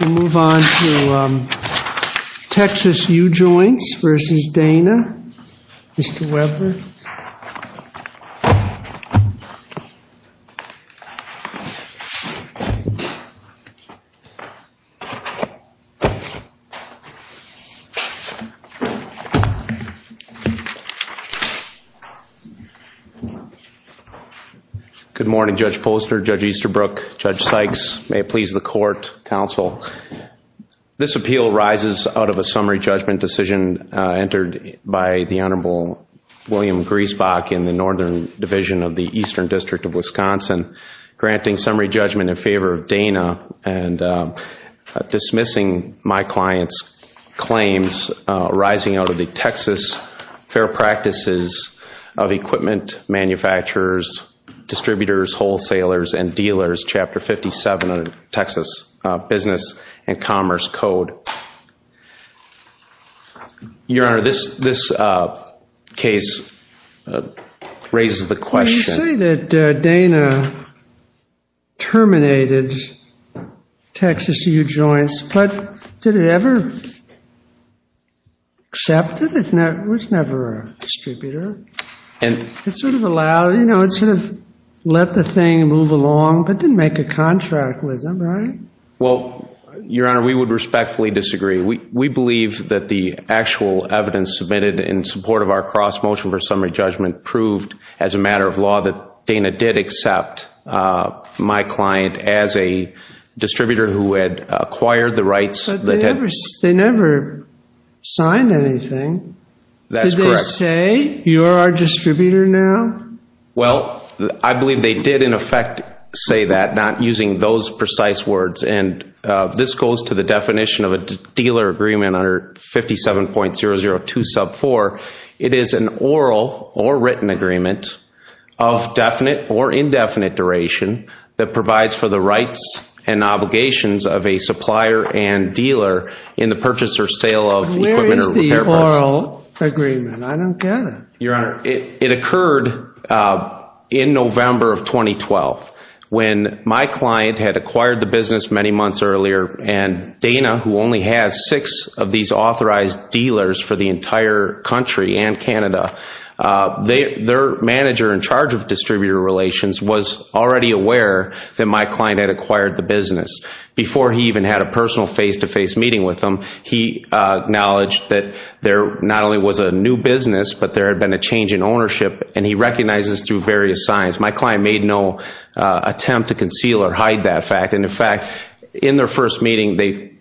We'll move on to Texas Ujoints v. Dana. Mr. Webber. Good morning, Judge Poster, Judge Easterbrook, Judge Sykes. May it please the court, counsel. This appeal rises out of a summary judgment decision entered by the Honorable William Griesbach in the Northern Division of the Eastern District of Wisconsin, granting summary judgment in favor of Dana and dismissing my client's claims arising out of the Texas Fair Practices of Equipment Manufacturers, Distributors, Wholesalers, and Dealers, Chapter 57 of the Texas Business and Commerce Code. Your Honor, this case raises the question You say that Dana terminated Texas Ujoints, but did it ever accept it? It was never a distributor. It sort of allowed, you know, it sort of let the thing move along, but didn't make a contract with them, right? Well, Your Honor, we would respectfully disagree. We believe that the actual evidence submitted in support of our cross-motion for summary judgment proved as a matter of law that Dana did accept my client as a distributor who had acquired the rights. But they never signed anything. That's correct. Did they say you're a distributor now? Well, I believe they did in effect say that, not using those precise words and this goes to the definition of a dealer agreement under 57.002 sub 4. It is an oral or written agreement of definite or indefinite duration that provides for the rights and obligations of a supplier and dealer in the purchase or sale of equipment or repair Your Honor, it occurred in November of 2012 when my client had acquired the business many months earlier and Dana, who only has six of these authorized dealers for the entire country and Canada, their manager in charge of distributor relations was already aware that my client had acquired the business. Before he even had a personal face-to-face meeting with them, he acknowledged that there not only was a new business, but there had been a change in ownership and he recognized this through various signs. My client made no attempt to conceal or hide that fact and, in fact, in their first meeting, they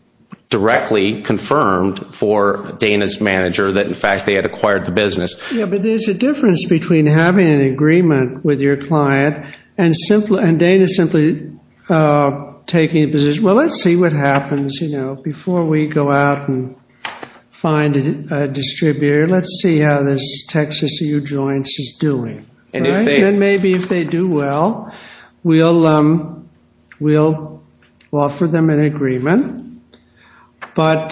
directly confirmed for Dana's manager that, in fact, they had acquired the business. Yes, but there's a difference between having an agreement with your client and Dana simply taking a position, Well, let's see what happens, you know, before we go out and find a distributor. Let's see how this Texas U Joints is doing. And maybe if they do well, we'll offer them an agreement. But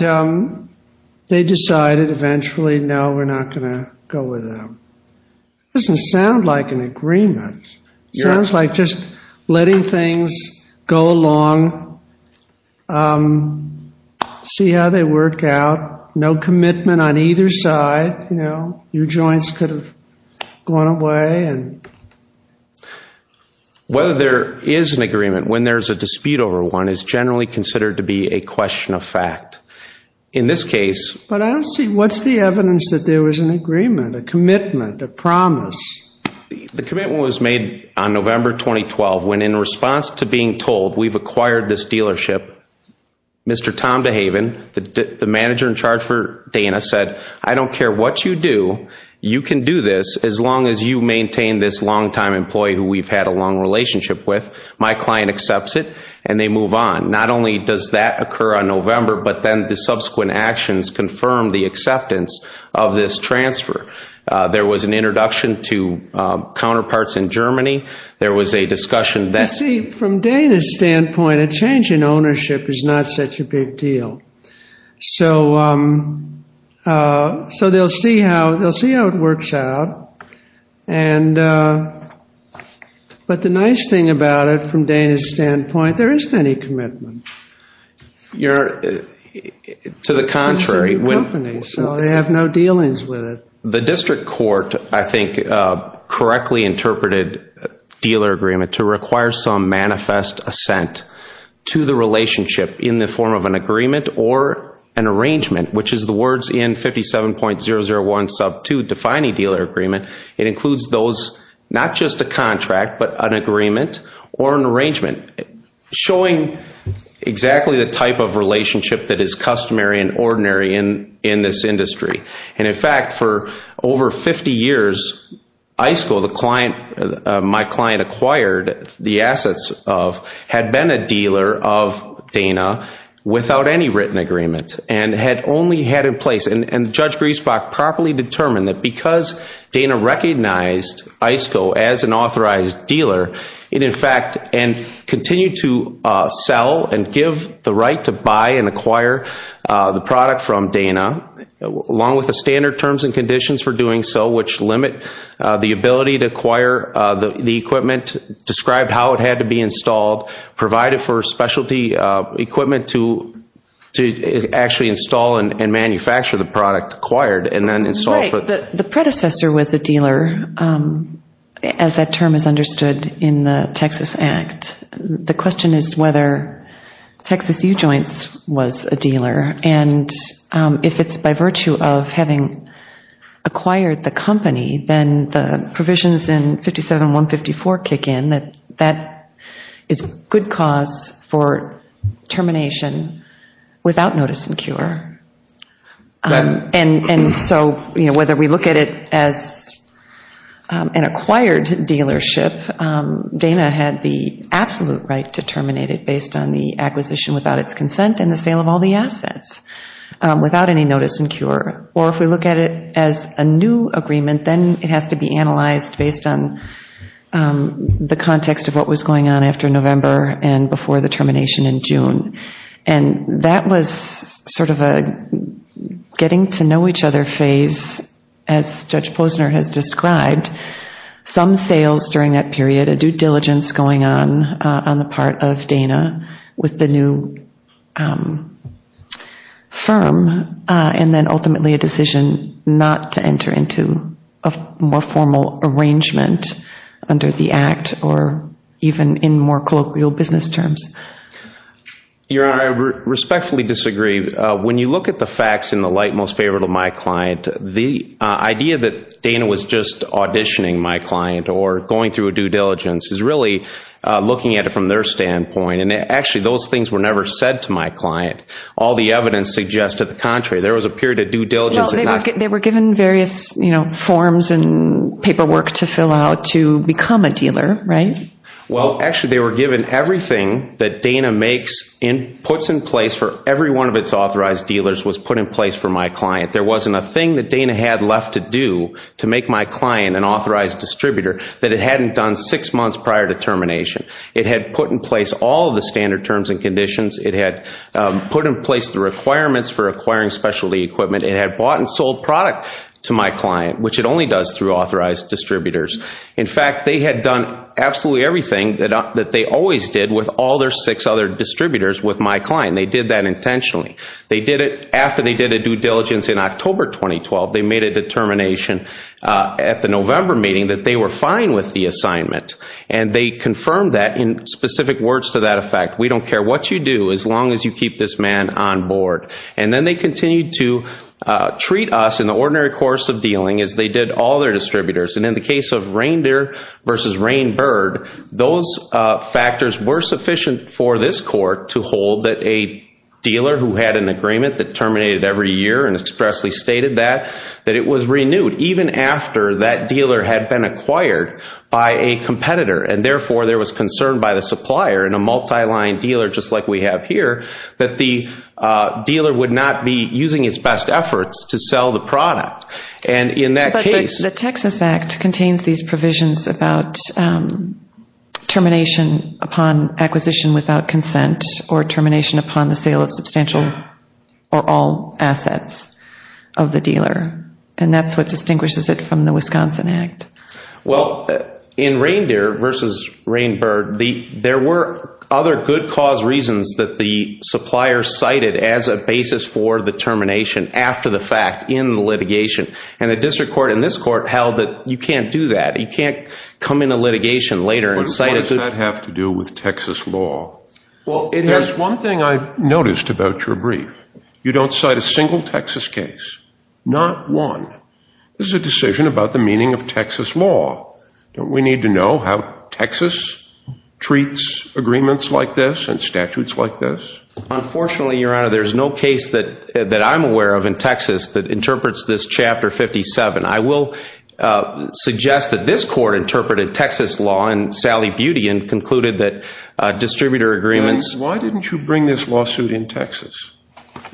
they decided eventually, no, we're not going to go with them. It doesn't sound like an agreement. Sounds like just letting things go along. See how they work out. No commitment on either side. You know, your joints could have gone away. Whether there is an agreement when there's a dispute over one is generally considered to be a question of fact. In this case, but I don't see what's the evidence that there was an agreement, a commitment, a promise. The commitment was made on November 2012 when, in response to being told we've acquired this dealership, Mr. Tom DeHaven, the manager in charge for Dana, said, I don't care what you do, you can do this as long as you maintain this longtime employee who we've had a long relationship with. My client accepts it and they move on. Not only does that occur on November, but then the subsequent actions confirm the acceptance of this transfer. There was an introduction to counterparts in Germany. There was a discussion that... You see, from Dana's standpoint, a change in ownership is not such a big deal. So they'll see how it works out. But the nice thing about it, from Dana's standpoint, there isn't any The district court, I think, correctly interpreted dealer agreement to require some manifest assent to the relationship in the form of an agreement or an arrangement, which is the words in 57.001 sub 2 defining dealer agreement. It includes those, not just a contract, but an agreement or an arrangement showing exactly the type of relationship that is customary and ordinary in this industry. And in fact, for over 50 years, iSCO, my client acquired the assets of, had been a dealer of Dana without any written agreement and had only had in place... And Judge Griesbach properly determined that because Dana recognized iSCO as an authorized the product from Dana, along with the standard terms and conditions for doing so, which limit the ability to acquire the equipment, describe how it had to be installed, provide it for specialty equipment to actually install and manufacture the product acquired, and then install for... Right. The predecessor was a dealer, as that term is understood in the Texas Act. The question is whether Texas U-Joints was a dealer. And if it's by virtue of having acquired the company, then the provisions in 57.154 kick in that that is good cause for termination without notice and cure. And so whether we look at it as an acquired dealership, Dana had the absolute right to terminate it based on the acquisition without its consent and the sale of all the assets without any notice and cure. Or if we look at it as a new agreement, then it has to be analyzed based on the context of what was going on after November and before the termination in June. And that was sort of a getting to know each other phase, as sales during that period, a due diligence going on on the part of Dana with the new firm, and then ultimately a decision not to enter into a more formal arrangement under the Act or even in more colloquial business terms. Your Honor, I respectfully disagree. When you look at the facts in the light most favorable to my client, the idea that Dana was just auditioning my client or going through a due diligence is really looking at it from their standpoint. And actually, those things were never said to my client. All the evidence suggested the contrary. There was a period of due diligence. Well, they were given various, you know, forms and paperwork to fill out to become a dealer, right? Well, actually, they were given everything that Dana puts in place for every one of its There wasn't a thing that Dana had left to do to make my client an authorized distributor that it hadn't done six months prior to termination. It had put in place all of the standard terms and conditions. It had put in place the requirements for acquiring specialty equipment. It had bought and sold product to my client, which it only does through authorized distributors. In fact, they had done absolutely everything that they always did with all their six other distributors with my client. They did that intentionally. They did it after they did a due diligence in October 2012. They made a determination at the November meeting that they were fine with the assignment. And they confirmed that in specific words to that effect. We don't care what you do as long as you keep this man on board. And then they continued to treat us in the ordinary course of dealing as they did all their distributors. And in the case of Reindeer versus Rain Bird, those factors were sufficient for this court to and expressly stated that, that it was renewed even after that dealer had been acquired by a competitor. And therefore, there was concern by the supplier and a multi-line dealer just like we have here that the dealer would not be using its best efforts to sell the product. And in that case... But the Texas Act contains these provisions about termination upon acquisition without consent or termination upon the sale of substantial or all assets of the dealer. And that's what distinguishes it from the Wisconsin Act. Well, in Reindeer versus Rain Bird, there were other good cause reasons that the supplier cited as a basis for the termination after the fact in the litigation. And the district court and this court held that you can't do that. You can't come into litigation later and cite a good... What does that have to do with Texas law? Well, it has... There's one thing I've noticed about your brief. You don't cite a single Texas case. Not one. This is a decision about the meaning of Texas law. Don't we need to know how Texas treats agreements like this and statutes like this? Unfortunately, Your Honor, there's no case that I'm aware of in Texas that interprets this Chapter 57. I will suggest that this court interpreted Texas law and Sally Butean concluded that distributor agreements... Why didn't you bring this lawsuit in Texas?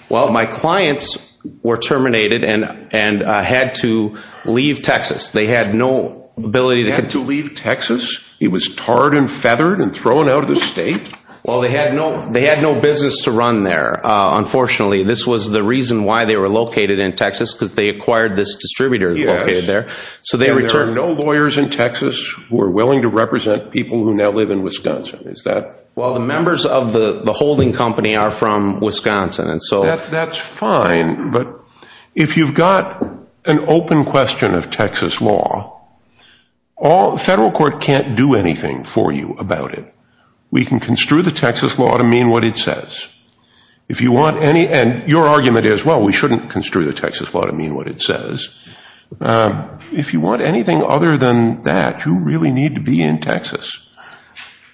Well, my clients were terminated and had to leave Texas. They had no ability to... Had to leave Texas? He was tarred and feathered and thrown out of the state? Well, they had no business to run there, unfortunately. This was the reason why they were located in Texas because they acquired this distributor located there. So there are no lawyers in Texas who are willing to represent people who now live in Wisconsin. Is that... Well, the members of the holding company are from Wisconsin. That's fine, but if you've got an open question of Texas law, the federal court can't do anything for you about it. We can construe the Texas law to mean what it says. If you want any... And your argument is, well, we shouldn't construe the Texas law to mean what it says. If you want anything other than that, you really need to be in Texas.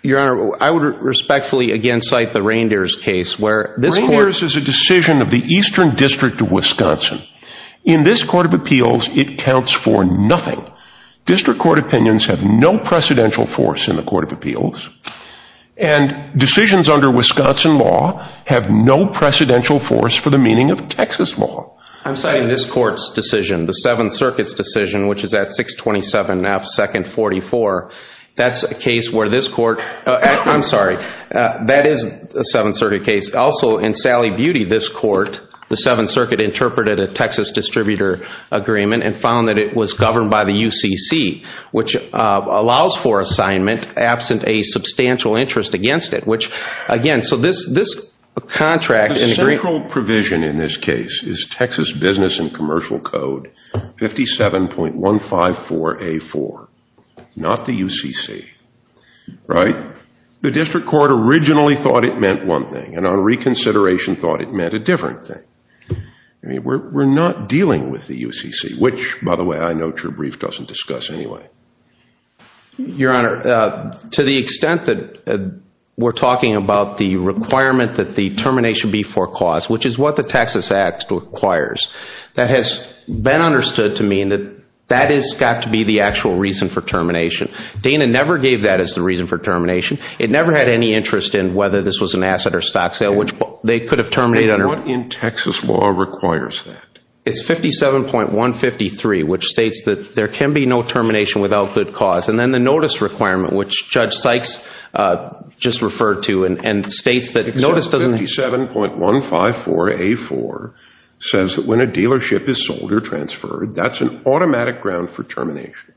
Your Honor, I would respectfully again cite the Reindeers case where this court... Reindeers is a decision of the Eastern District of Wisconsin. In this Court of Appeals, it counts for nothing. District Court opinions have no precedential force in the Court of Appeals. I'm citing this Court's decision, the Seventh Circuit's decision, which is at 627 F. 2nd 44. That's a case where this Court... I'm sorry. That is a Seventh Circuit case. Also, in Sally Beauty, this Court, the Seventh Circuit interpreted a Texas distributor agreement and found that it was governed by the UCC, which allows for assignment absent a substantial interest against it, which again... So this contract... The central provision in this case is Texas Business and Commercial Code 57.154A4, not the UCC, right? The District Court originally thought it meant one thing, and on reconsideration thought it meant a different thing. We're not dealing with the UCC, which by the way, I note your brief doesn't discuss anyway. Your Honor, to the extent that we're talking about the requirement that the termination be for cause, which is what the Texas Act requires, that has been understood to mean that that has got to be the actual reason for termination. Dana never gave that as the reason for termination. It never had any interest in whether this was an asset or stock sale, which they could have terminated under... And what in Texas law requires that? It's 57.153, which states that there can be no termination without good cause. And then the notice requirement, which Judge Sykes just referred to and states that notice doesn't... 57.154A4 says that when a dealership is sold or transferred, that's an automatic ground for termination.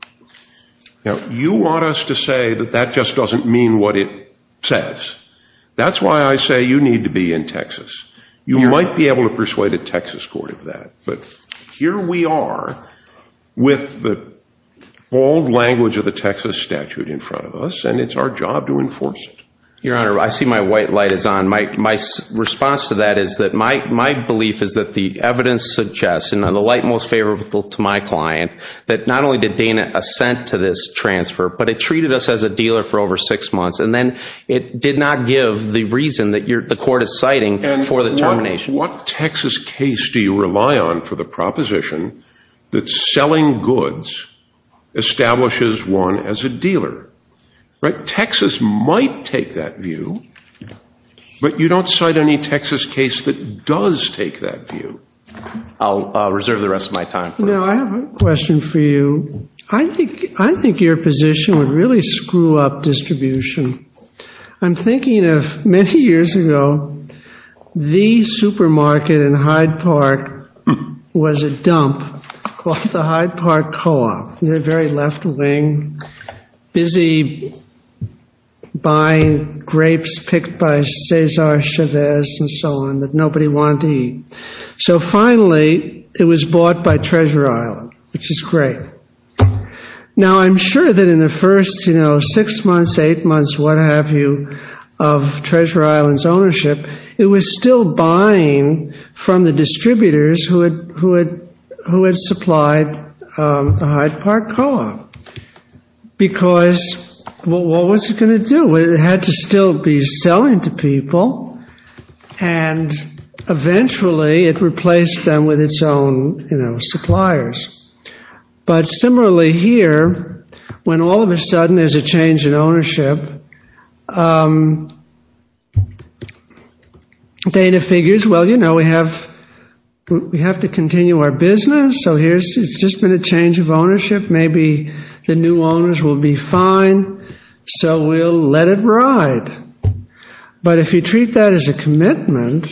Now, you want us to say that that just doesn't mean what it says. That's why I say you need to be in Texas. You might be able to persuade a Texas court of that, but here we are with the old language of the Texas statute in front of us, and it's our job to enforce it. Your Honor, I see my white light is on. My response to that is that my belief is that the evidence suggests, and the light most favorable to my client, that not only did Dana assent to this transfer, but it treated us as a dealer for over six months. And then it did not give the reason that the court is citing for the termination. What Texas case do you rely on for the proposition that selling goods establishes one as a dealer? Right? Texas might take that view, but you don't cite any Texas case that does take that view. I'll reserve the rest of my time for you. Now, I have a question for you. I think your position would really screw up distribution. I'm thinking of many years ago, the supermarket in Hyde Park was a dump called the Hyde Park Co-op. The very left wing, busy buying grapes picked by Cesar Chavez and so on that nobody wanted to eat. So finally, it was bought by Treasure Island, which is great. Now I'm sure that in the first six months, eight months, what have you, of Treasure Island's distributors who had supplied the Hyde Park Co-op? Because what was it going to do? It had to still be selling to people, and eventually it replaced them with its own suppliers. But similarly here, when all of a sudden there's a change in ownership, Dana figures, well, you know, we have to continue our business. So here's, it's just been a change of ownership. Maybe the new owners will be fine, so we'll let it ride. But if you treat that as a commitment,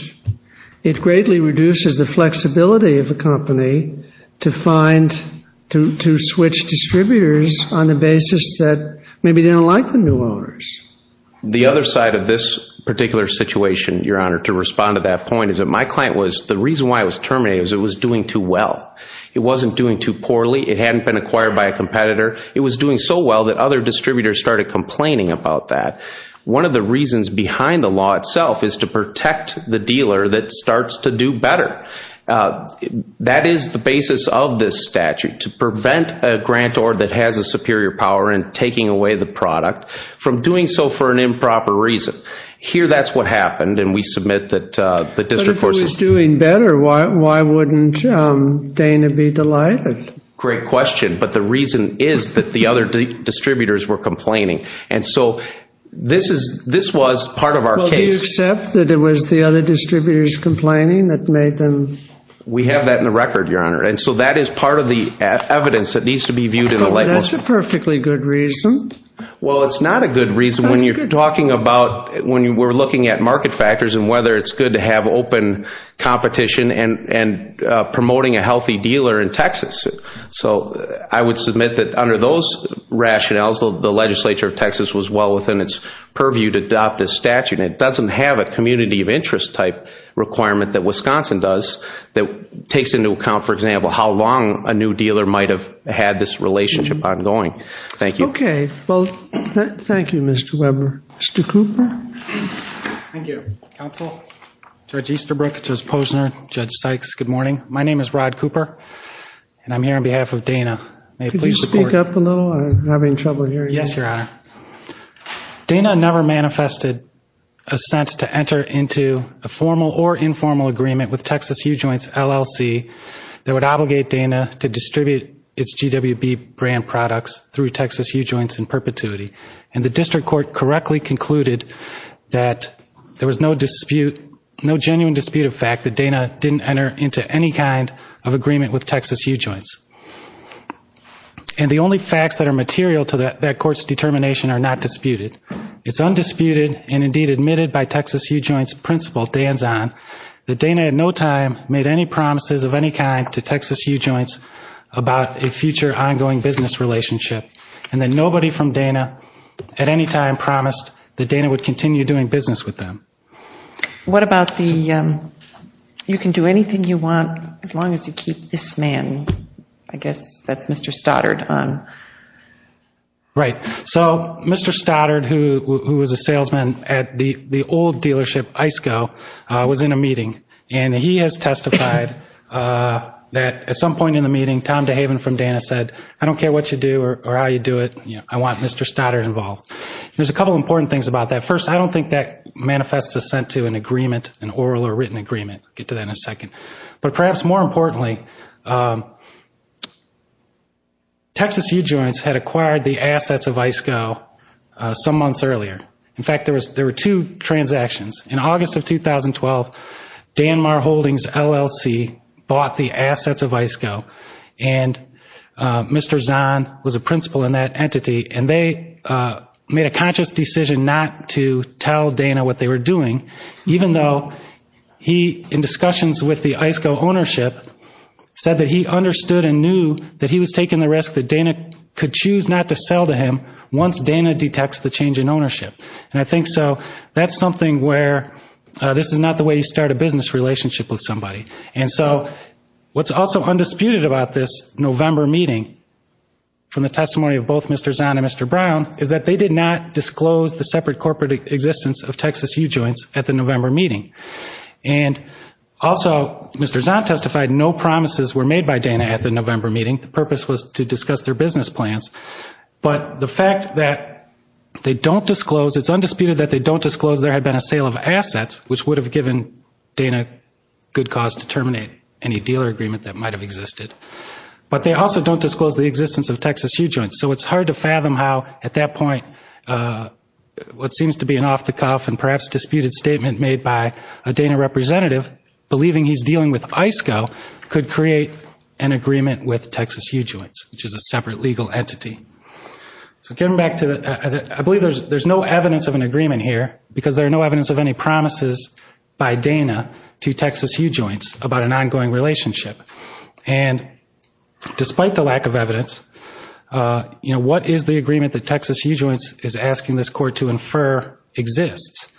it greatly reduces the flexibility of a company to find, to switch distributors on the basis that maybe they don't like the new owners. The other side of this particular situation, Your Honor, to respond to that point is that my client was, the reason why it was terminated was it was doing too well. It wasn't doing too poorly. It hadn't been acquired by a competitor. It was doing so well that other distributors started complaining about that. One of the reasons behind the law itself is to protect the dealer that starts to do better. That is the basis of this statute, to prevent a grantor that has a superior power in taking away the product from doing so for an improper reason. Here, that's what happened, and we submit that the district forces... But if it was doing better, why wouldn't Dana be delighted? Great question. But the reason is that the other distributors were complaining. And so this is, this was part of our case. Well, do you accept that it was the other distributors complaining that made them... We have that in the record, Your Honor. And so that is part of the evidence that needs to be viewed in the light. That's a perfectly good reason. Well, it's not a good reason when you're talking about, when we're looking at market factors and whether it's good to have open competition and promoting a healthy dealer in Texas. So I would submit that under those rationales, the legislature of Texas was well within its purview to adopt this statute. It doesn't have a community of interest type requirement that Wisconsin does that takes into account, for example, how long a new dealer might have had this relationship ongoing. Thank you. Okay. Well, thank you, Mr. Weber. Mr. Cooper? Thank you. Counsel, Judge Easterbrook, Judge Posner, Judge Sykes, good morning. My name is Rod Cooper, and I'm here on behalf of Dana. May I please support you? Could you speak up a little? I'm having trouble hearing you. Yes, Your Honor. Dana never manifested a sense to enter into a formal or informal agreement with Texas U-Joints in perpetuity that would obligate Dana to distribute its GWB brand products through Texas U-Joints in perpetuity. And the district court correctly concluded that there was no dispute, no genuine dispute of fact that Dana didn't enter into any kind of agreement with Texas U-Joints. And the only facts that are material to that court's determination are not disputed. It's undisputed and indeed admitted by Texas U-Joints principal, Dan Zahn, that Dana at no time made any promises of any kind to Texas U-Joints about a future ongoing business relationship, and that nobody from Dana at any time promised that Dana would continue doing business with them. What about the, you can do anything you want as long as you keep this man, I guess that's Mr. Stoddard, on? Right. So Mr. Stoddard, who was a salesman at the old dealership, I-SCO, was in a meeting and he has testified that at some point in the meeting Tom DeHaven from Dana said, I don't care what you do or how you do it, I want Mr. Stoddard involved. There's a couple important things about that. First, I don't think that manifests assent to an agreement, an oral or written agreement. We'll get to that in a second. But perhaps more importantly, Texas U-Joints had acquired the assets of I-SCO some months earlier. In fact, there were two transactions. In August of 2012, Danmar Holdings LLC bought the assets of I-SCO, and Mr. Zahn was a principal in that entity, and they made a conscious decision not to tell Dana what they were doing, even though he, in discussions with the I-SCO ownership, said that he understood and knew that he was taking the risk that Dana could choose not to sell to him once Dana detects the change in ownership. And I think so that's something where this is not the way you start a business relationship with somebody. And so what's also undisputed about this November meeting from the testimony of both Mr. Zahn and Mr. Brown is that they did not disclose the separate corporate existence of Texas U-Joints at the November meeting. And also, Mr. Zahn testified no promises were made by Dana at the November meeting. The purpose was to discuss their business plans. But the fact that they don't disclose, it's undisputed that they don't disclose there had been a sale of assets, which would have given Dana good cause to terminate any dealer agreement that might have existed. But they also don't disclose the existence of Texas U-Joints. So it's hard to fathom how, at that point, what seems to be an off-the-cuff and perhaps disputed statement made by a Dana representative believing he's in agreement with Texas U-Joints, which is a separate legal entity. So getting back to the, I believe there's no evidence of an agreement here because there are no evidence of any promises by Dana to Texas U-Joints about an ongoing relationship. And despite the lack of evidence, you know, what is the agreement that Texas U-Joints is asking this court to infer exists?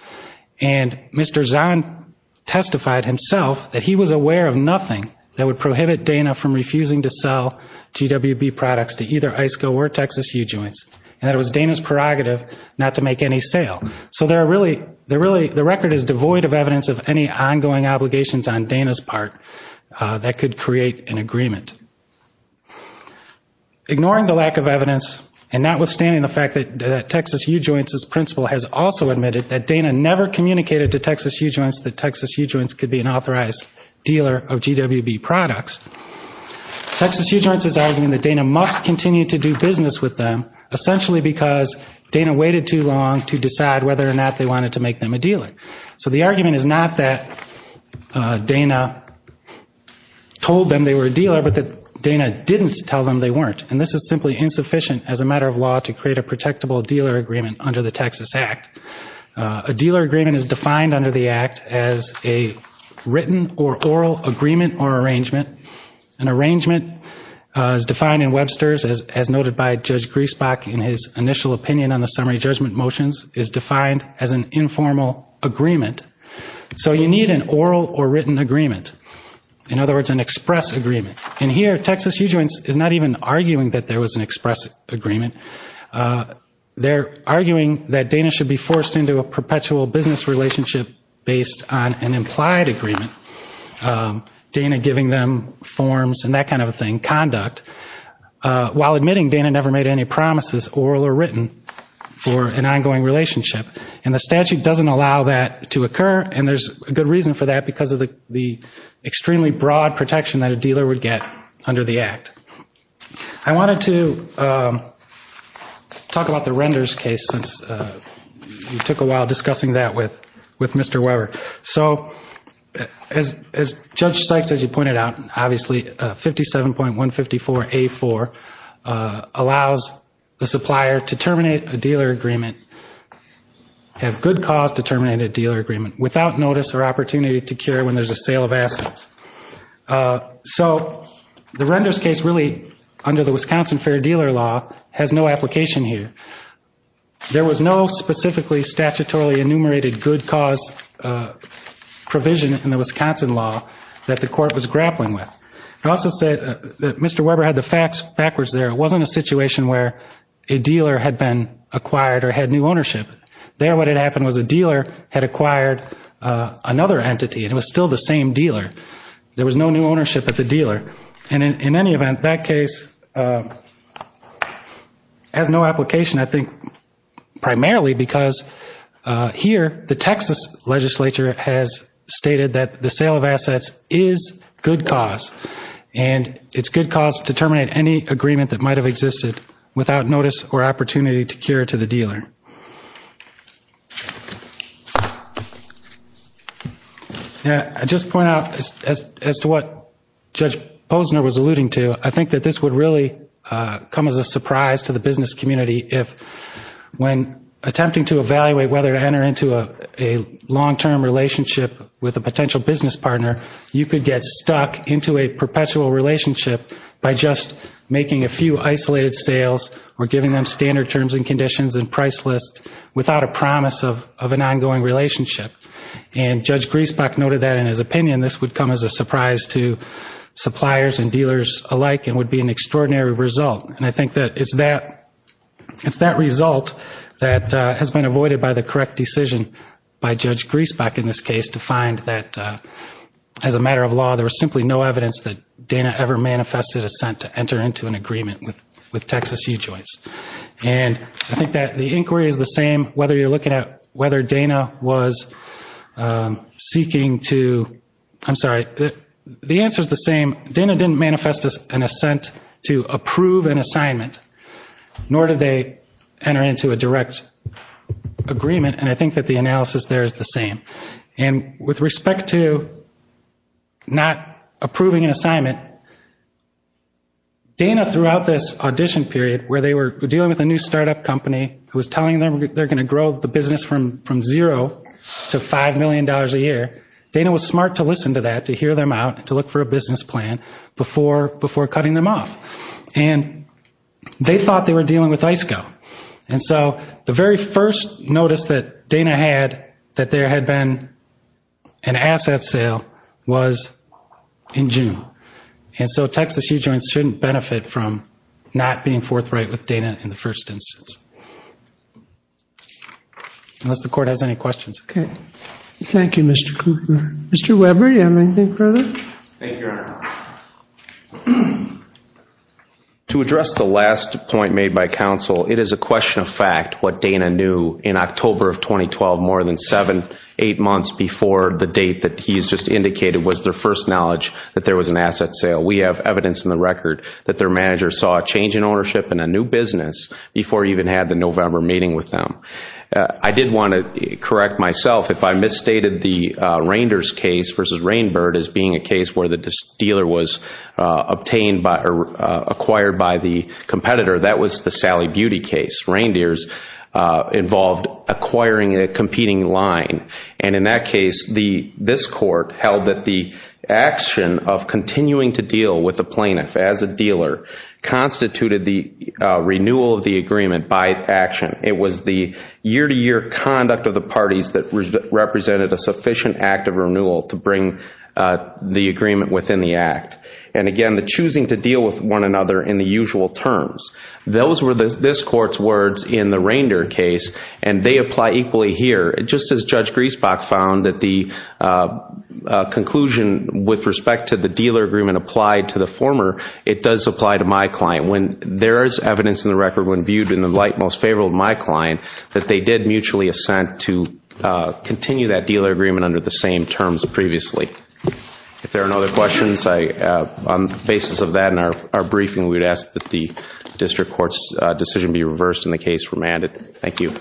And Mr. Zahn testified himself that he was aware of nothing that would prohibit Dana from refusing to sell GWB products to either ISCO or Texas U-Joints, and that it was Dana's prerogative not to make any sale. So there are really, the record is devoid of evidence of any ongoing obligations on Dana's part that could create an agreement. Ignoring the lack of evidence and notwithstanding the fact that Texas U-Joints' principal has also admitted that Dana never communicated to Texas U-Joints that Texas U-Joints could be an authorized dealer of GWB products, Texas U-Joints is arguing that Dana must continue to do business with them essentially because Dana waited too long to decide whether or not they wanted to make them a dealer. So the argument is not that Dana told them they were a dealer, but that Dana didn't tell them they weren't. And this is simply insufficient as a matter of law to create a protectable dealer agreement under the Texas Act. A dealer agreement is defined under the Act as a written or oral agreement or arrangement. An arrangement is defined in Webster's as noted by Judge Griesbach in his initial opinion on the summary judgment motions is defined as an informal agreement. So you need an oral or written agreement. In other words, an express agreement. And here, Texas U-Joints is not even arguing that there was an express agreement. They're arguing that Dana should be forced into a relationship without Dana giving them forms and that kind of a thing, conduct, while admitting Dana never made any promises, oral or written, for an ongoing relationship. And the statute doesn't allow that to occur and there's a good reason for that because of the extremely broad protection that a dealer would get under the Act. I wanted to talk about the Renders case since we took a while discussing that with Mr. Weber. So as Judge Sykes, as you pointed out, obviously 57.154A4 allows the supplier to terminate a dealer agreement, have good cause to terminate a dealer agreement without notice or opportunity to cure when there's a sale of assets. So the Renders case really, under the Wisconsin Fair Dealer Law, has no application here. There was no specifically statutorily enumerated good cause provision in the Wisconsin law that the court was grappling with. It also said that Mr. Weber had the facts backwards there. It wasn't a situation where a dealer had been acquired or had new ownership. There what had happened was a dealer had acquired another entity and it was still the same dealer. There was no new ownership at the dealer. And in any event, that case has no application I think primarily because here the Texas legislature has stated that the sale of assets is good cause. And it's good cause to terminate any agreement that might have existed without notice or opportunity to cure to the dealer. I just point out as to what Judge Posner was alluding to, I think that this would really come as a surprise to the public when attempting to evaluate whether to enter into a long-term relationship with a potential business partner, you could get stuck into a perpetual relationship by just making a few isolated sales or giving them standard terms and conditions and price lists without a promise of an ongoing relationship. And Judge Griesbach noted that in his opinion this would come as a surprise to suppliers and dealers alike and would be an extraordinary result. And I think it's that result that has been avoided by the correct decision by Judge Griesbach in this case to find that as a matter of law, there was simply no evidence that Dana ever manifested assent to enter into an agreement with Texas UJOYS. And I think that the inquiry is the same whether you're looking at whether Dana was seeking to, I'm sorry, the answer is the same. Dana didn't manifest an assent to approve an assignment, nor did they request an assent to approve enter into a direct agreement, and I think that the analysis there is the same. And with respect to not approving an assignment, Dana throughout this audition period where they were dealing with a new start-up company who was telling them they're going to grow the business from zero to $5 million a year, Dana was smart to listen to that, to hear them out, to look for a business plan before cutting them off. And they thought they were dealing with ice go, and they were not. And so the very first notice that Dana had that there had been an asset sale was in June. And so Texas UJOYS shouldn't benefit from not being forthright with Dana in the first instance. Unless the Court has any questions. Okay. Thank you, Mr. Kruger. Mr. Weber, do you have anything further? Thank you, Your Honor. To address the last point made by counsel, it is a question of fact what Dana knew in October of 2012 more than seven, eight months before the date that he has just indicated was their first knowledge that there was an asset sale. We have evidence in the record that their manager saw a change in ownership in a new business before he even had the November meeting with them. I did want to correct myself if I misstated the Reinders case versus Rainbird as being a case where the dealer was acquired by the competitor. That was the Sally Beauty case. Reinders involved acquiring a competing line. And in that case, this Court held that the action of continuing to deal with the plaintiff as a dealer constituted the renewal of the agreement by action. It was the year-to-year conduct of the parties that represented a part of the agreement within the act. And again, the choosing to deal with one another in the usual terms. Those were this Court's words in the Reinders case, and they apply equally here. Just as Judge Griesbach found that the conclusion with respect to the dealer agreement applied to the former, it does apply to my client. There is evidence in the record when viewed in the light most favorable of my client that they did mutually assent to continue that dealer agreement under the same terms as previously. If there are no other questions, on the basis of that and our briefing, we would ask that the District Court's decision be reversed and the case remanded. Thank you.